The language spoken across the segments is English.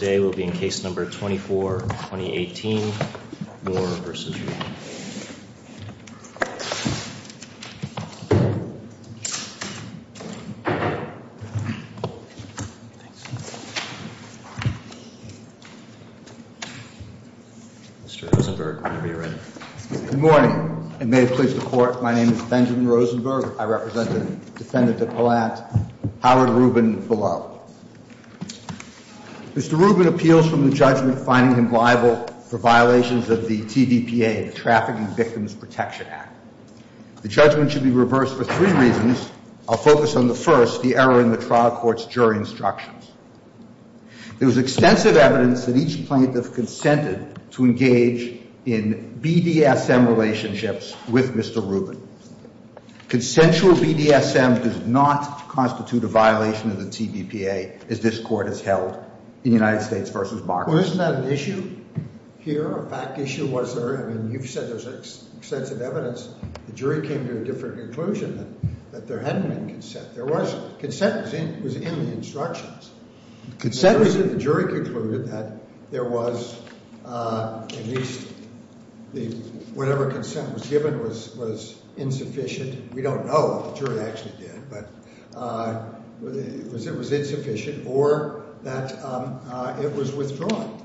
Good morning and may it please the court, my name is Benjamin Rosenberg. I represent the defendant at Palat, Howard Rubin, below. Mr. Rubin appeals from the judgment finding him liable for violations of the TVPA, the Trafficking Victims Protection Act. The judgment should be reversed for three reasons. I'll focus on the first, the error in the trial court's jury instructions. There was extensive evidence that each plaintiff consented to engage in BDSM relationships with Mr. Rubin. Consensual BDSM does not constitute a violation of the TVPA as this court has held in United States v. Barclay. Well, isn't that an issue here, a fact issue? You've said there's extensive evidence. The jury came to a different conclusion that there hadn't been consent. Consent was in the instructions. The jury concluded that there was at least whatever consent was given was insufficient. We don't know if the jury actually did, but it was insufficient or that it was withdrawn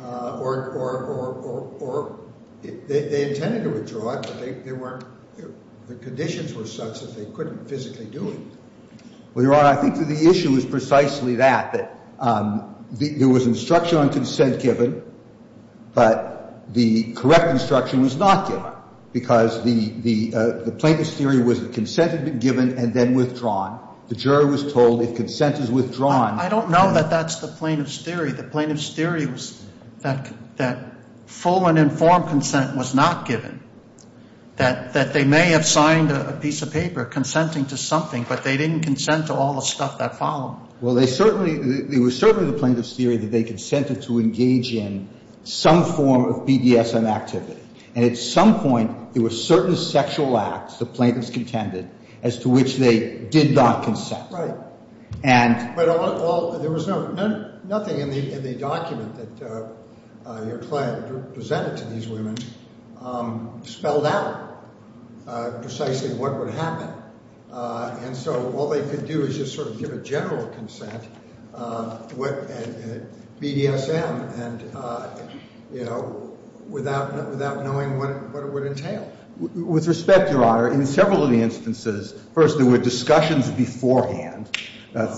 or they intended to withdraw it, but the conditions were such that they couldn't physically do it. Well, Your Honor, I think that the issue is precisely that, that there was instruction on consent given, but the correct instruction was not given because the plaintiff's theory was that consent had been given and then withdrawn. The jury was told if consent is withdrawn... I don't know that that's the plaintiff's theory. The plaintiff's theory was that full and informed consent was not given, that they may have signed a piece of paper consenting to something, but they didn't consent to all the stuff that followed. Well, they certainly, it was certainly the plaintiff's theory that they consented to engage in some form of BDSM activity, and at some point there were certain sexual acts the plaintiff's contended as to which they did not consent. Right. But there was nothing in the document that your client presented to these women spelled out precisely what would happen. And so all they could do is just sort of give a general consent, BDSM, and, you know, without knowing what it would entail. With respect, Your Honor, in several of the instances, first, there were discussions beforehand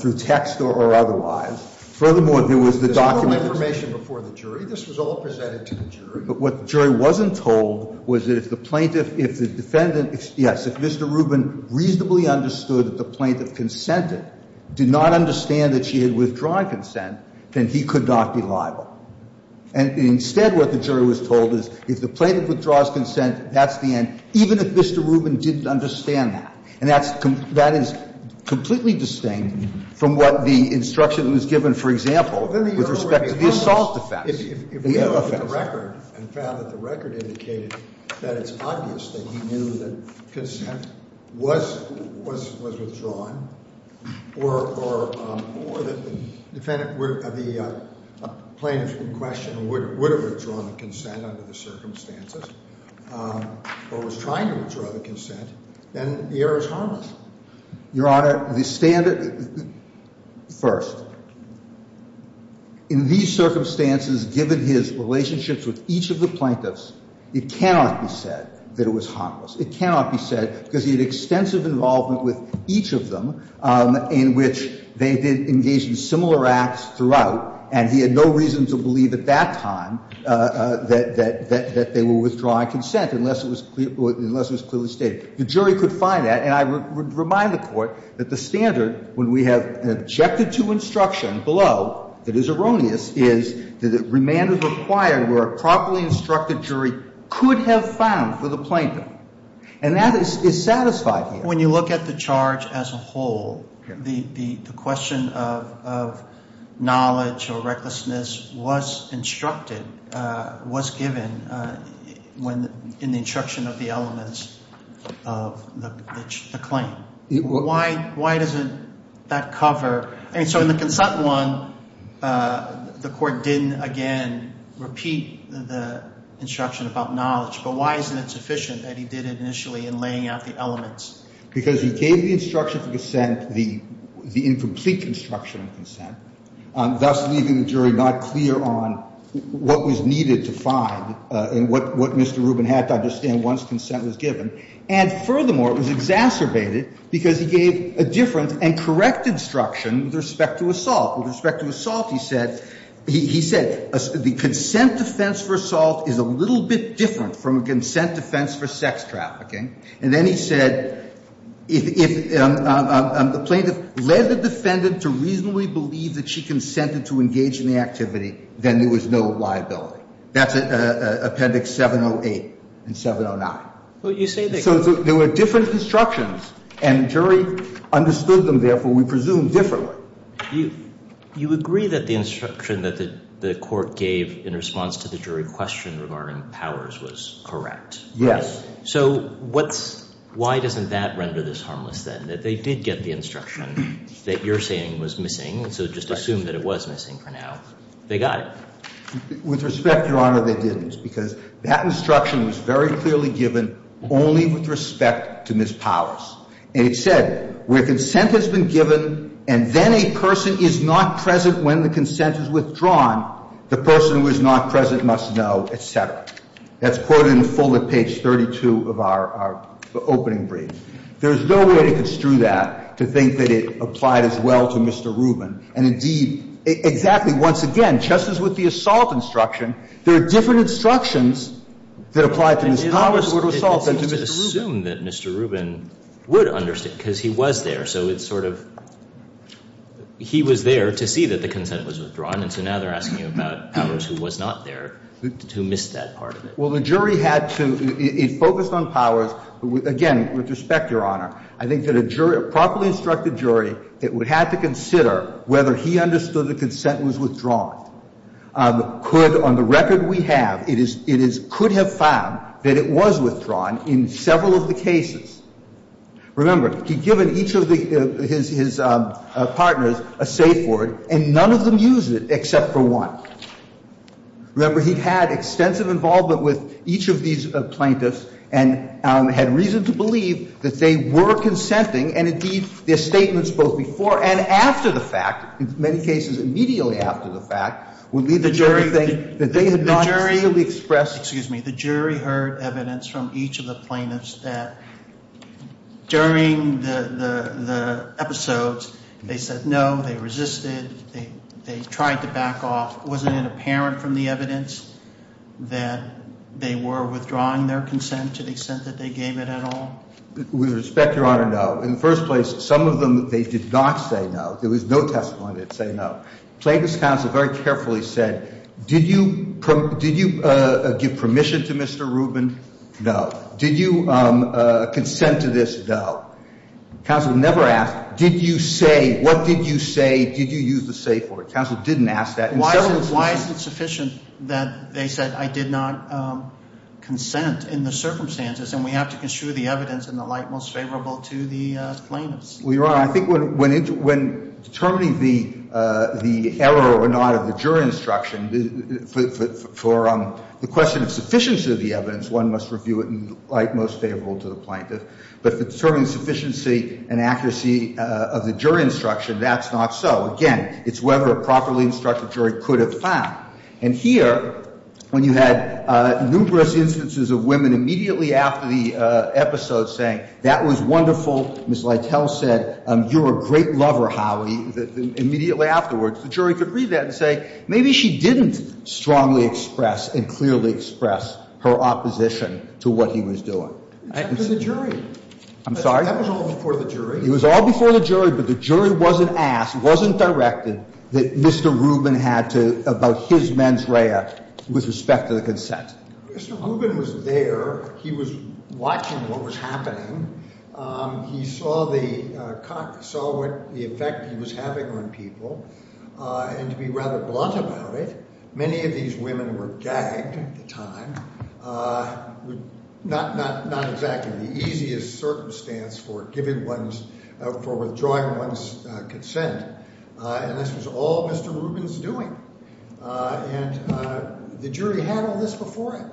through text or otherwise. Furthermore, there was the document... There's no information before the jury. This was all presented to the jury. But what the jury wasn't told was that if the plaintiff, if the defendant, yes, if Mr. Rubin reasonably understood that the plaintiff consented, did not understand that she had withdrawn consent, then he could not be liable. And instead what the jury was told is if the plaintiff withdraws consent, that's the end, even if Mr. Rubin didn't understand that. And that is completely distinct from what the instruction was given, for example, with respect to the assault offense. If we look at the record and found that the record indicated that it's obvious that he knew that consent was withdrawn, or that the plaintiff in question would have withdrawn the consent under the circumstances, or was trying to withdraw the consent, then the error is harmless. Your Honor, the standard... First, in these circumstances, given his relationships with each of the plaintiffs, it cannot be said that it was harmless. It cannot be said, because he had extensive involvement with each of them, in which they did engage in similar acts throughout, and he had no reason to believe at that time that they were withdrawing consent, unless it was clearly stated. The jury could find that. And I would remind the Court that the standard, when we have an objected to instruction below that is erroneous, is that remand is required where a properly instructed jury could have found for the plaintiff. And that is satisfied here. When you look at the charge as a whole, the question of knowledge or recklessness was instructed, was given in the instruction of the elements of the claim. Why doesn't that cover? So in the consent one, the Court didn't, again, repeat the instruction about knowledge, but why isn't it sufficient that he did it initially in laying out the elements? Because he gave the instruction for consent, the incomplete instruction of consent, thus leaving the jury not clear on what was needed to find and what Mr. Rubin had to understand once consent was given. And furthermore, it was exacerbated because he gave a different and correct instruction with respect to assault. With respect to assault, he said, he said the consent defense for assault is a little bit different from a consent defense for sex trafficking. And then he said if a plaintiff led the defendant to reasonably believe that she consented to engage in the activity, then there was no liability. That's Appendix 708 and 709. So there were different instructions and the jury understood them, therefore, we presume differently. You agree that the instruction that the Court gave in response to the jury question regarding powers was correct. Yes. So what's, why doesn't that render this harmless then? That they did get the instruction that you're saying was missing, so just assume that it was missing for now. They got it. With respect, Your Honor, they didn't because that instruction was very clearly given only with respect to Ms. Powers. And it said where consent has been given and then a person is not present when the consent is withdrawn, the person who is not present must know, et cetera. That's quoted in the full at page 32 of our opening brief. There is no way to construe that to think that it applied as well to Mr. Rubin. And indeed, exactly, once again, just as with the assault instruction, there are different instructions that apply to Ms. Powers or to Mr. Rubin. Well, so just assume that Mr. Rubin would understand because he was there. So it's sort of he was there to see that the consent was withdrawn, and so now they're asking you about Powers who was not there, who missed that part of it. Well, the jury had to, it focused on Powers, but again, with respect, Your Honor, I think that a jury, a properly instructed jury, that would have to consider whether he understood the consent was withdrawn could, on the record we have, it could have found that it was withdrawn in several of the cases. Remember, he'd given each of his partners a safe word, and none of them used it except for one. Remember, he had extensive involvement with each of these plaintiffs and had reason to believe that they were consenting, and indeed, their statements both before and after the fact, in many cases immediately after the fact, would lead the jury to think that they had not. The jury, we expressed, excuse me, the jury heard evidence from each of the plaintiffs that during the episodes, they said no, they resisted, they tried to back off. Wasn't it apparent from the evidence that they were withdrawing their consent to the extent that they gave it at all? With respect, Your Honor, no. In the first place, some of them, they did not say no. There was no testimony that said no. Plaintiffs' counsel very carefully said, did you give permission to Mr. Rubin? No. Did you consent to this? No. Counsel never asked, did you say, what did you say, did you use the safe word? Counsel didn't ask that. Why is it sufficient that they said I did not consent in the circumstances, and we have to construe the evidence in the light most favorable to the plaintiffs? Well, Your Honor, I think when determining the error or not of the jury instruction, for the question of sufficiency of the evidence, one must review it in the light most favorable to the plaintiff. But for determining sufficiency and accuracy of the jury instruction, that's not so. Again, it's whether a properly instructed jury could have found. And here, when you had numerous instances of women immediately after the episode saying, that was wonderful, Ms. Lytle said, you're a great lover, Holly, immediately afterwards, the jury could read that and say, maybe she didn't strongly express and clearly express her opposition to what he was doing. That was the jury. I'm sorry? That was all before the jury. It was all before the jury, but the jury wasn't asked, wasn't directed that Mr. Rubin had to about his mens rea with respect to the consent. Mr. Rubin was there. He was watching what was happening. He saw the effect he was having on people. And to be rather blunt about it, many of these women were gagged at the time. Not exactly the easiest circumstance for withdrawing one's consent. And this was all Mr. Rubin's doing. And the jury had all this before him.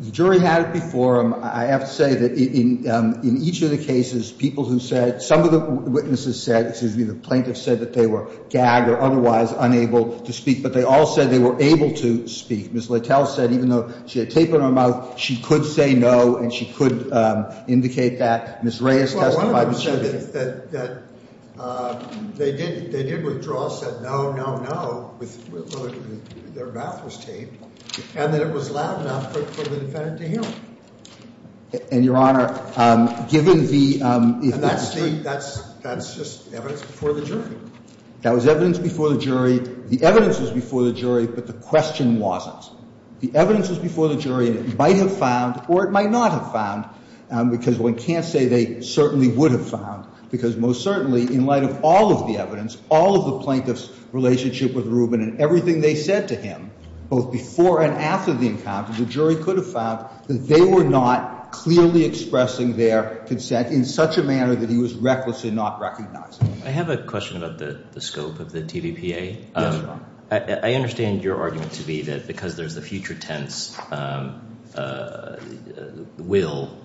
The jury had it before him. I have to say that in each of the cases, people who said, some of the witnesses said, excuse me, the plaintiffs said that they were gagged or otherwise unable to speak, but they all said they were able to speak. Ms. Lytle said, even though she had tape in her mouth, she could say no and she could indicate that. Ms. Reyes testified that she did. Well, one of them said that they did withdraw, said no, no, no, although their mouth was taped, and that it was loud enough for the defendant to hear them. And, Your Honor, given the- And that's just evidence before the jury. That was evidence before the jury. The evidence was before the jury, but the question wasn't. The evidence was before the jury, and it might have found or it might not have found, because one can't say they certainly would have found, because most certainly in light of all of the evidence, all of the plaintiffs' relationship with Rubin and everything they said to him, both before and after the encounter, the jury could have found that they were not clearly expressing their consent in such a manner that he was recklessly not recognizing it. I have a question about the scope of the TVPA. Yes, Your Honor. I understand your argument to be that because there's a future tense will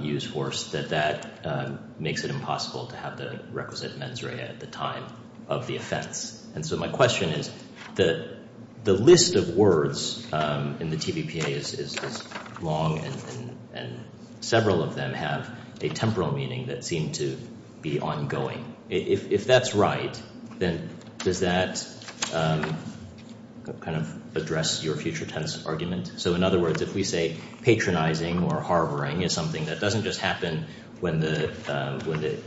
use force, that that makes it impossible to have the requisite mens rea at the time of the offense. And so my question is, the list of words in the TVPA is long, and several of them have a temporal meaning that seem to be ongoing. If that's right, then does that kind of address your future tense argument? So in other words, if we say patronizing or harboring is something that doesn't just happen when the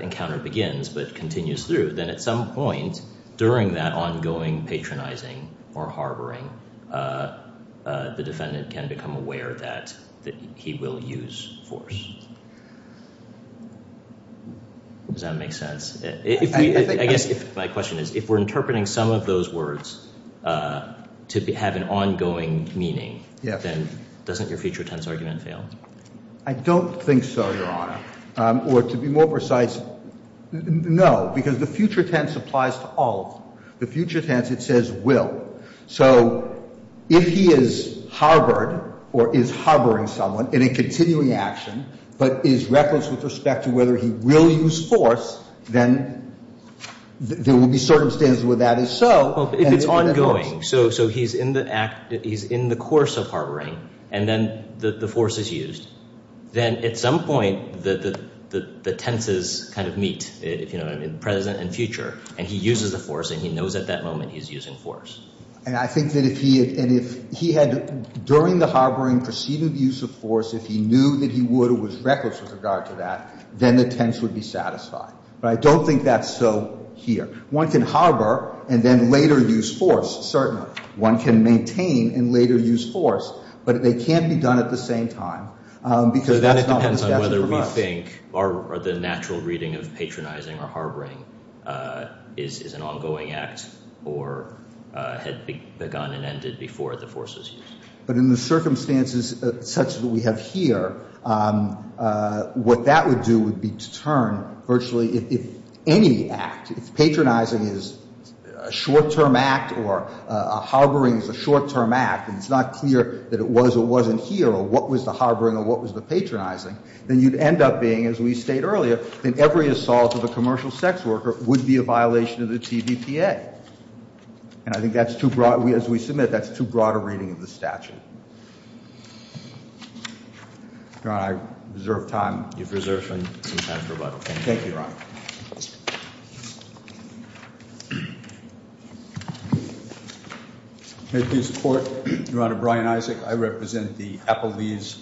encounter begins but continues through, then at some point during that ongoing patronizing or harboring, the defendant can become aware that he will use force. Does that make sense? I guess my question is, if we're interpreting some of those words to have an ongoing meaning, then doesn't your future tense argument fail? I don't think so, Your Honor. Or to be more precise, no, because the future tense applies to all of them. The future tense, it says will. So if he is harbored or is harboring someone in a continuing action but is reckless with respect to whether he will use force, then there will be circumstances where that is so. If it's ongoing, so he's in the course of harboring and then the force is used, then at some point the tenses kind of meet, if you know what I mean, present and future, and he uses the force and he knows at that moment he's using force. And I think that if he had, during the harboring, preceding the use of force, if he knew that he would or was reckless with regard to that, then the tense would be satisfied. But I don't think that's so here. One can harbor and then later use force, certainly. One can maintain and later use force, but they can't be done at the same time because that's not what the statute provides. I don't think the natural reading of patronizing or harboring is an ongoing act or had begun and ended before the force was used. But in the circumstances such that we have here, what that would do would be to turn virtually if any act, if patronizing is a short-term act or harboring is a short-term act and it's not clear that it was or wasn't here or what was the harboring or what was the patronizing, then you'd end up being, as we stated earlier, then every assault of a commercial sex worker would be a violation of the TVPA. And I think that's too broad. As we submit, that's too broad a reading of the statute. Your Honor, I reserve time. You've reserved some time for rebuttal. Thank you, Your Honor. Thank you, Your Honor. At this court, Your Honor, Brian Isaac, I represent the Appellees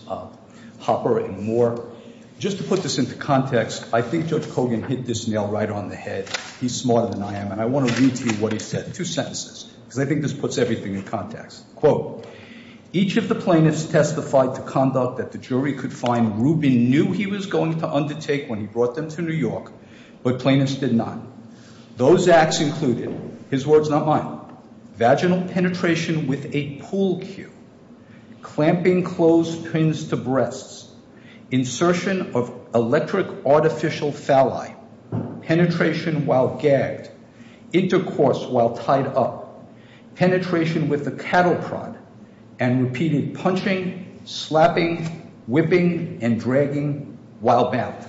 Hopper and Moore. Just to put this into context, I think Judge Kogan hit this nail right on the head. He's smarter than I am, and I want to read to you what he said, two sentences, because I think this puts everything in context. Quote, each of the plaintiffs testified to conduct that the jury could find. Rubin knew he was going to undertake when he brought them to New York, but plaintiffs did not. Those acts included, his words, not mine, vaginal penetration with a pool cue, clamping closed pins to breasts, insertion of electric artificial phalli, penetration while gagged, intercourse while tied up, penetration with a cattle prod, and repeated punching, slapping, whipping, and dragging while bound.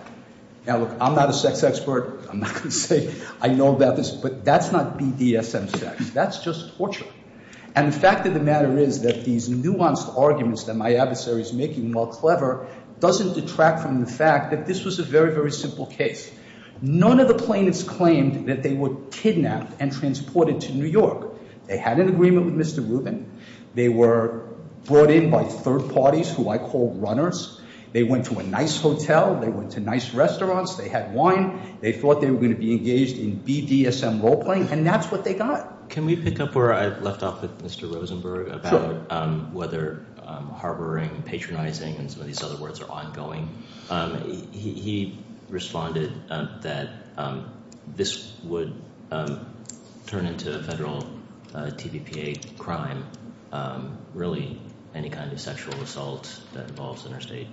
Now, look, I'm not a sex expert. I'm not going to say I know about this, but that's not BDSM sex. That's just torture. And the fact of the matter is that these nuanced arguments that my adversary is making, while clever, doesn't detract from the fact that this was a very, very simple case. None of the plaintiffs claimed that they were kidnapped and transported to New York. They had an agreement with Mr. Rubin. They were brought in by third parties, who I call runners. They went to a nice hotel. They went to nice restaurants. They had wine. They thought they were going to be engaged in BDSM role playing, and that's what they got. Can we pick up where I left off with Mr. Rosenberg about whether harboring, patronizing, and some of these other words are ongoing? He responded that this would turn into a federal TBPA crime, really any kind of sexual assault that involves interstate,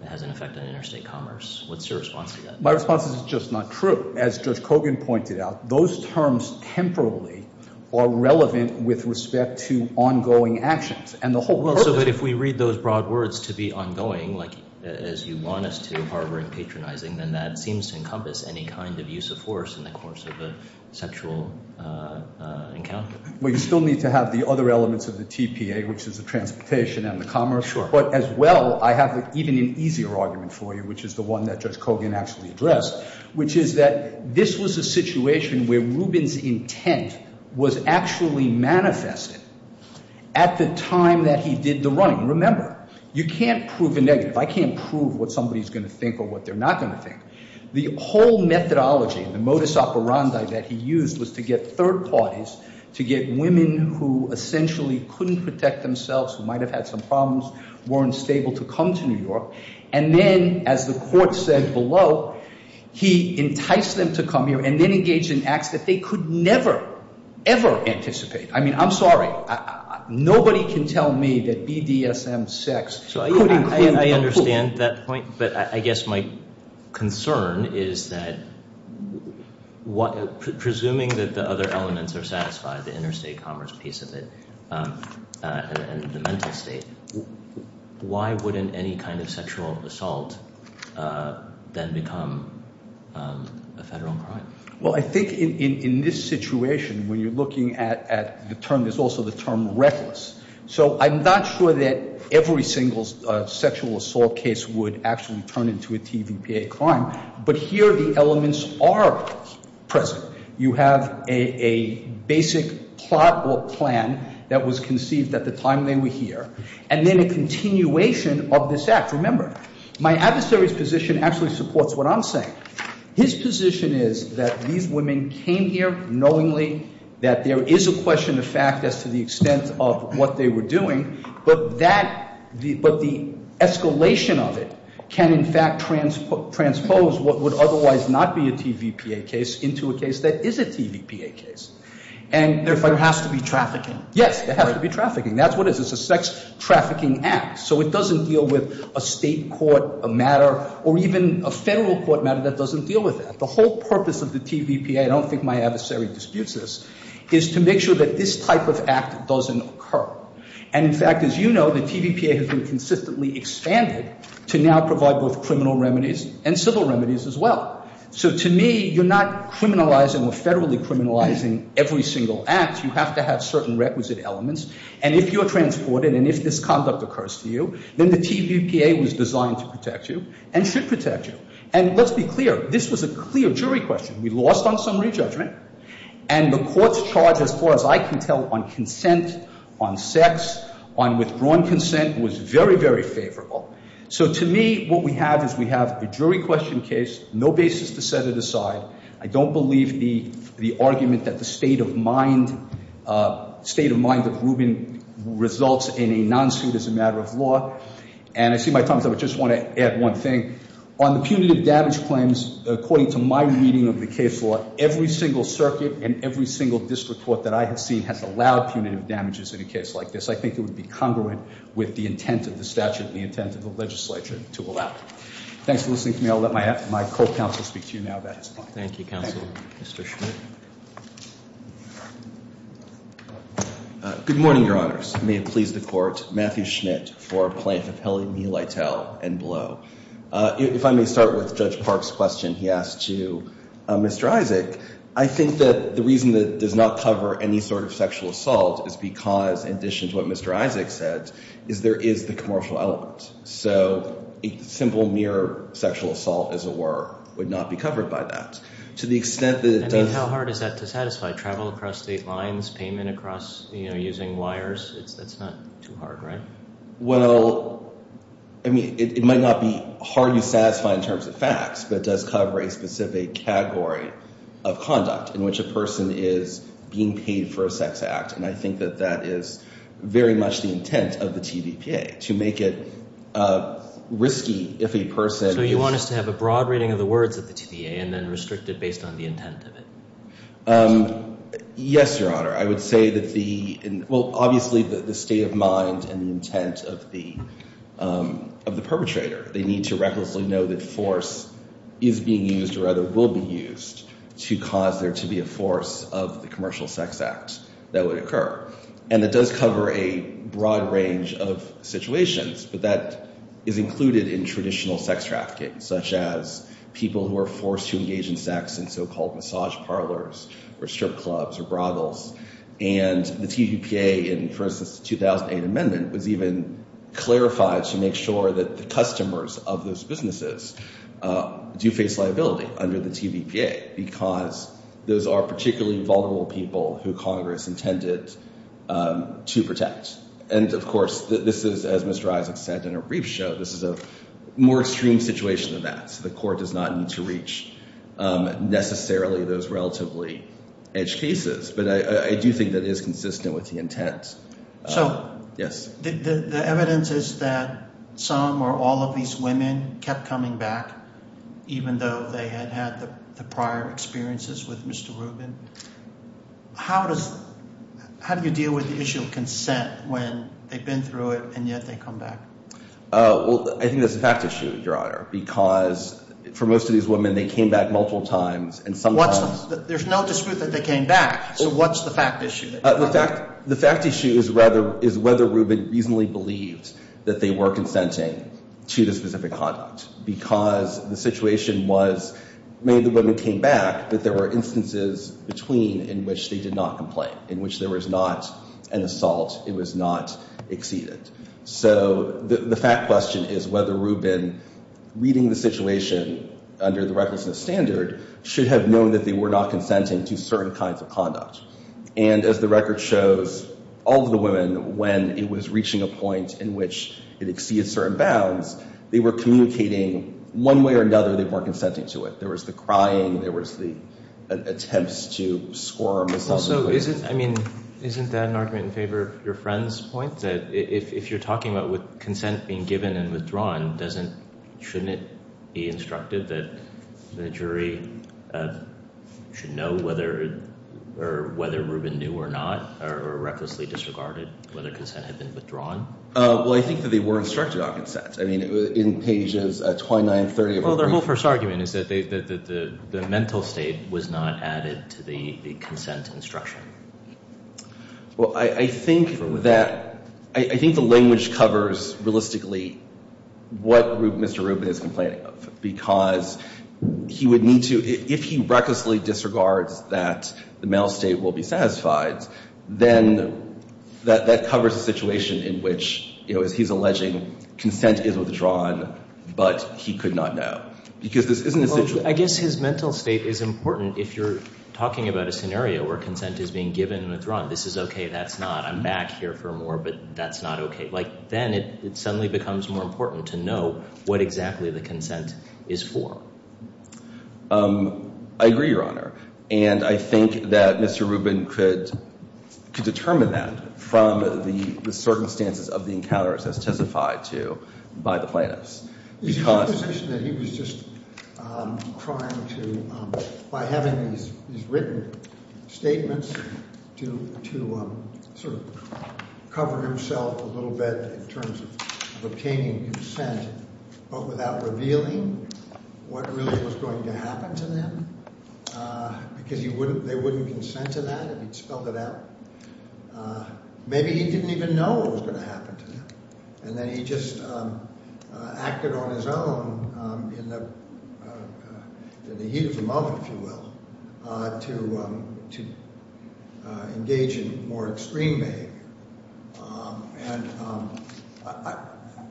that has an effect on interstate commerce. What's your response to that? My response is it's just not true. As Judge Kogan pointed out, those terms temporarily are relevant with respect to ongoing actions. But if we read those broad words to be ongoing, like as you want us to, harboring, patronizing, then that seems to encompass any kind of use of force in the course of a sexual encounter. We still need to have the other elements of the TPA, which is the transportation and the commerce. But as well, I have even an easier argument for you, which is the one that Judge Kogan actually addressed, which is that this was a situation where Rubin's intent was actually manifested at the time that he did the running. Remember, you can't prove a negative. I can't prove what somebody's going to think or what they're not going to think. The whole methodology, the modus operandi that he used was to get third parties, to get women who essentially couldn't protect themselves, who might have had some problems, weren't stable to come to New York. And then, as the court said below, he enticed them to come here and then engaged in acts that they could never, ever anticipate. I mean, I'm sorry. Nobody can tell me that BDSM sex could include the pool. I understand that point, but I guess my concern is that, presuming that the other elements are satisfied, the interstate commerce piece of it and the mental state, why wouldn't any kind of sexual assault then become a federal crime? Well, I think in this situation, when you're looking at the term, there's also the term reckless. So I'm not sure that every single sexual assault case would actually turn into a TVPA crime, but here the elements are present. You have a basic plot or plan that was conceived at the time they were here, and then a continuation of this act. Remember, my adversary's position actually supports what I'm saying. His position is that these women came here knowingly, that there is a question of fact as to the extent of what they were doing, but the escalation of it can, in fact, transpose what would otherwise not be a TVPA case into a case that is a TVPA case. And there has to be trafficking. Yes, there has to be trafficking. That's what it is. It's a sex trafficking act. So it doesn't deal with a state court matter or even a federal court matter that doesn't deal with that. The whole purpose of the TVPA, I don't think my adversary disputes this, is to make sure that this type of act doesn't occur. And in fact, as you know, the TVPA has been consistently expanded to now provide both criminal remedies and civil remedies as well. So to me, you're not criminalizing or federally criminalizing every single act. You have to have certain requisite elements. And if you're transported and if this conduct occurs to you, then the TVPA was designed to protect you and should protect you. And let's be clear. This was a clear jury question. We lost on summary judgment. And the court's charge, as far as I can tell, on consent, on sex, on withdrawn consent was very, very favorable. So to me, what we have is we have a jury question case, no basis to set it aside. I don't believe the argument that the state of mind of Rubin results in a non-suit as a matter of law. And I see my time's up. I just want to add one thing. On the punitive damage claims, according to my reading of the case law, every single circuit and every single district court that I have seen has allowed punitive damages in a case like this. I think it would be congruent with the intent of the statute and the intent of the legislature to allow it. Thanks for listening to me. I'll let my co-counsel speak to you now. Thank you, counsel. Mr. Schmidt. Good morning, Your Honors. May it please the Court. Matthew Schmidt for Plaintiff Helen E. Lytle and below. If I may start with Judge Park's question he asked to Mr. Isaac. I think that the reason that it does not cover any sort of sexual assault is because, in addition to what Mr. Isaac said, is there is the commercial element. So a simple, mere sexual assault, as it were, would not be covered by that. To the extent that it does I mean, how hard is that to satisfy? Travel across state lines? Payment across, you know, using wires? That's not too hard, right? Well, I mean, it might not be hard to satisfy in terms of facts, but it does cover a specific category of conduct in which a person is being paid for a sex act. And I think that that is very much the intent of the TVPA, to make it risky if a person So you want us to have a broad reading of the words of the TVA and then restrict it based on the intent of it? Yes, Your Honor. I would say that the Well, obviously the state of mind and the intent of the perpetrator. They need to recklessly know that force is being used or rather will be used to cause there to be a force of the commercial sex act that would occur. And it does cover a broad range of situations, but that is included in traditional sex trafficking, such as people who are forced to engage in sex in so-called massage parlors or strip clubs or brothels. And the TVPA in, for instance, the 2008 amendment was even clarified to make sure that the customers of those businesses do face liability under the TVPA because those are particularly vulnerable people who Congress intended to protect. And of course, this is, as Mr. Isaac said in a brief show, this is a more extreme situation than that. So the court does not need to reach necessarily those relatively edged cases. But I do think that is consistent with the intent. So the evidence is that some or all of these women kept coming back, even though they had had the prior experiences with Mr. Rubin. How do you deal with the issue of consent when they've been through it and yet they come back? Well, I think that's a fact issue, Your Honor, because for most of these women, they came back multiple times and sometimes There's no dispute that they came back. So what's the fact issue? The fact issue is whether Rubin reasonably believed that they were consenting to the specific conduct because the situation was, maybe the women came back, but there were instances between in which they did not complain, in which there was not an assault, it was not exceeded. So the fact question is whether Rubin, reading the situation under the recklessness standard, should have known that they were not consenting to certain kinds of conduct. And as the record shows, all of the women, when it was reaching a point in which it exceeded certain bounds, they were communicating one way or another they weren't consenting to it. There was the crying, there was the attempts to squirm. So isn't that an argument in favor of your friend's point, that if you're talking about consent being given and withdrawn, shouldn't it be instructive that the jury should know whether Rubin knew or not, or recklessly disregarded, whether consent had been withdrawn? Well, I think that they were instructed on consent. I mean, in pages 29 and 30 of the brief. Well, their whole first argument is that the mental state was not added to the consent instruction. Well, I think that, I think the language covers realistically what Mr. Rubin is complaining about, because he would need to, if he recklessly disregards that the mental state will be satisfied, then that covers a situation in which, you know, as he's alleging, consent is withdrawn, but he could not know. Because this isn't a situation. But I guess his mental state is important if you're talking about a scenario where consent is being given and withdrawn. This is okay, that's not. I'm back here for more, but that's not okay. Like, then it suddenly becomes more important to know what exactly the consent is for. I agree, Your Honor. And I think that Mr. Rubin could determine that from the circumstances of the encounters as testified to by the plaintiffs. There's a proposition that he was just trying to, by having his written statements, to sort of cover himself a little bit in terms of obtaining consent, but without revealing what really was going to happen to them, because they wouldn't consent to that if he'd spelled it out. Maybe he didn't even know what was going to happen to them, and then he just acted on his own in the heat of the moment, if you will, to engage in more extreme behavior. And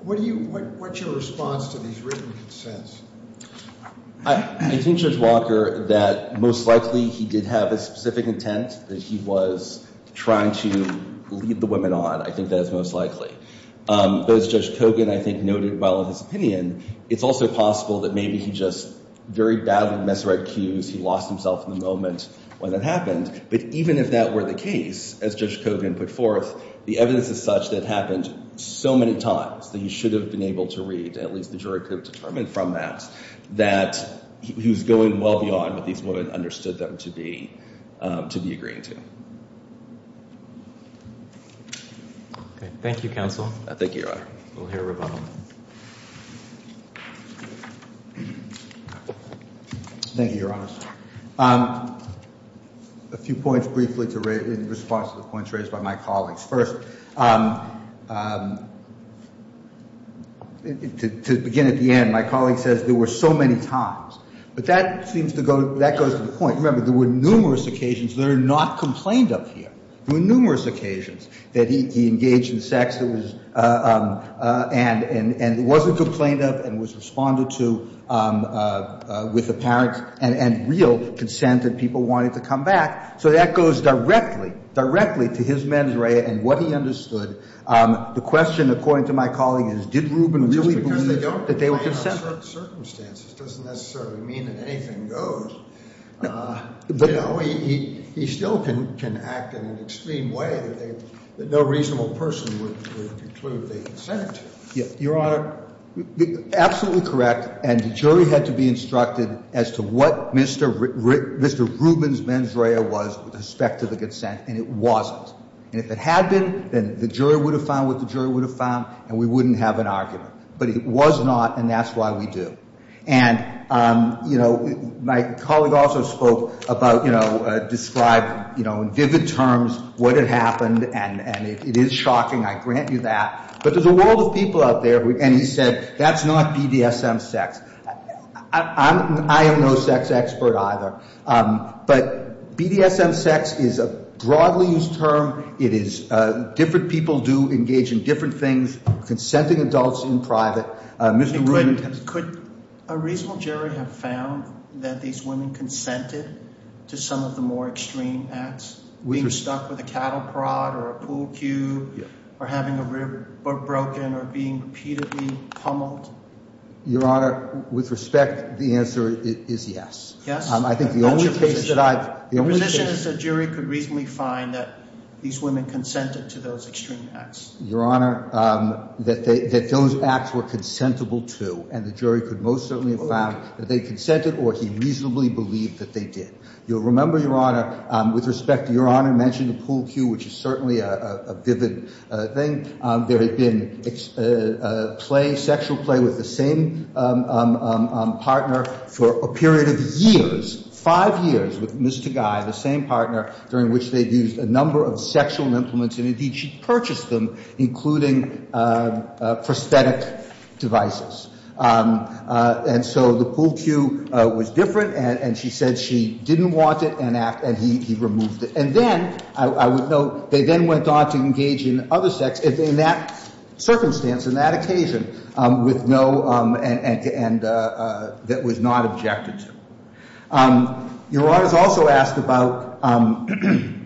what's your response to these written consents? I think, Judge Walker, that most likely he did have a specific intent that he was trying to lead the women on. I think that's most likely. But as Judge Kogan, I think, noted well in his opinion, it's also possible that maybe he just very badly misread cues. He lost himself in the moment when it happened. But even if that were the case, as Judge Kogan put forth, the evidence is such that it happened so many times that he should have been able to read, and at least the jury could have determined from that, that he was going well beyond what these women understood them to be agreeing to. Okay. Thank you, Counsel. Thank you, Your Honor. We'll hear rebuttal. Thank you, Your Honors. A few points briefly in response to the points raised by my colleagues. First, to begin at the end, my colleague says there were so many times. But that seems to go, that goes to the point. Remember, there were numerous occasions that are not complained of here. There were numerous occasions that he engaged in sex and wasn't complained of and was responded to with apparent and real consent that people wanted to come back. So that goes directly, directly to his mens rea and what he understood. The question, according to my colleague, is did Rubin really believe that they were consenting? Just because they don't complain of certain circumstances doesn't necessarily mean that anything goes. But, you know, he still can act in an extreme way that no reasonable person would conclude they consent. Your Honor, absolutely correct. And the jury had to be instructed as to what Mr. Rubin's mens rea was with respect to the consent, and it wasn't. And if it had been, then the jury would have found what the jury would have found, and we wouldn't have an argument. But it was not, and that's why we do. And, you know, my colleague also spoke about, you know, describe, you know, in vivid terms what had happened, and it is shocking, I grant you that. But there's a world of people out there, and he said that's not BDSM sex. I am no sex expert either. But BDSM sex is a broadly used term. It is different people do engage in different things, consenting adults in private. Mr. Rubin. Could a reasonable jury have found that these women consented to some of the more extreme acts, being stuck with a cattle prod or a pool cue or having a rib broken or being repeatedly pummeled? Your Honor, with respect, the answer is yes. I think the only case that I've – The position is the jury could reasonably find that these women consented to those extreme acts. Your Honor, that those acts were consentable to, and the jury could most certainly have found that they consented or he reasonably believed that they did. You'll remember, Your Honor, with respect, Your Honor mentioned the pool cue, which is certainly a vivid thing. There had been play, sexual play, with the same partner for a period of years, five years with Ms. Tagay, the same partner, during which they'd used a number of sexual implements, and indeed she purchased them, including prosthetic devices. And so the pool cue was different, and she said she didn't want it, and he removed it. And then, I would note, they then went on to engage in other sex in that circumstance, in that occasion, with no – and that was not objected to. Your Honor's also asked about – and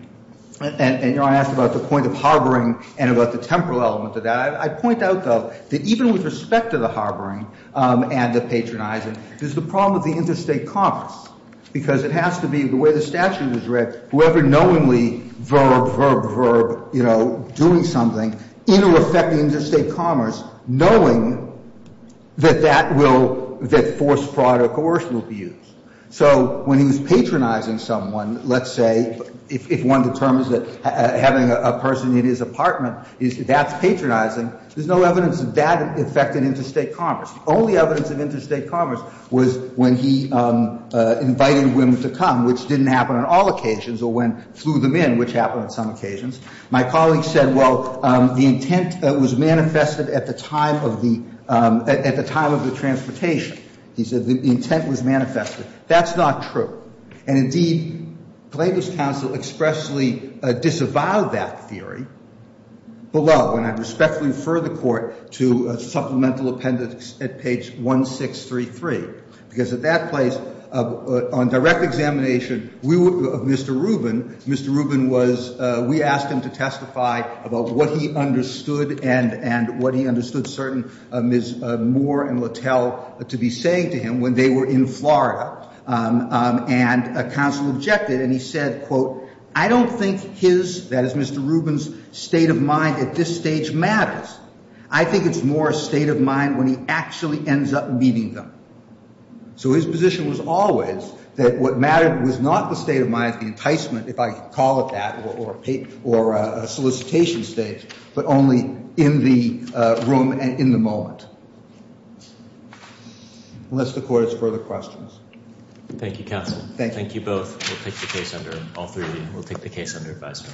Your Honor asked about the point of harboring and about the temporal element of that. I point out, though, that even with respect to the harboring and the patronizing, there's the problem of the interstate commerce, because it has to be the way the statute was read. Whoever knowingly verb, verb, verb, you know, doing something, it'll affect the interstate commerce, knowing that that will – that forced fraud or coercion will be used. So when he was patronizing someone, let's say, if one determines that having a person in his apartment is – that's patronizing, there's no evidence that that affected interstate commerce. The only evidence of interstate commerce was when he invited women to come, which didn't happen on all occasions, or when flew them in, which happened on some occasions. My colleague said, well, the intent was manifested at the time of the – at the time of the transportation. He said the intent was manifested. That's not true. And, indeed, Klage's counsel expressly disavowed that theory below, and I respectfully refer the Court to Supplemental Appendix at page 1633, because at that place, on direct examination of Mr. Rubin, Mr. Rubin was – we asked him to testify about what he understood and what he understood certain Ms. Moore and Littell to be saying to him when they were in Florida, and a counsel objected, and he said, quote, I don't think his – that is, Mr. Rubin's – state of mind at this stage matters. I think it's more a state of mind when he actually ends up meeting them. So his position was always that what mattered was not the state of mind, the enticement, if I can call it that, or a solicitation stage, but only in the room and in the moment. Unless the Court has further questions. Thank you, counsel. Thank you. Thank you both. We'll take the case under – all three of you. We'll take the case under advisory.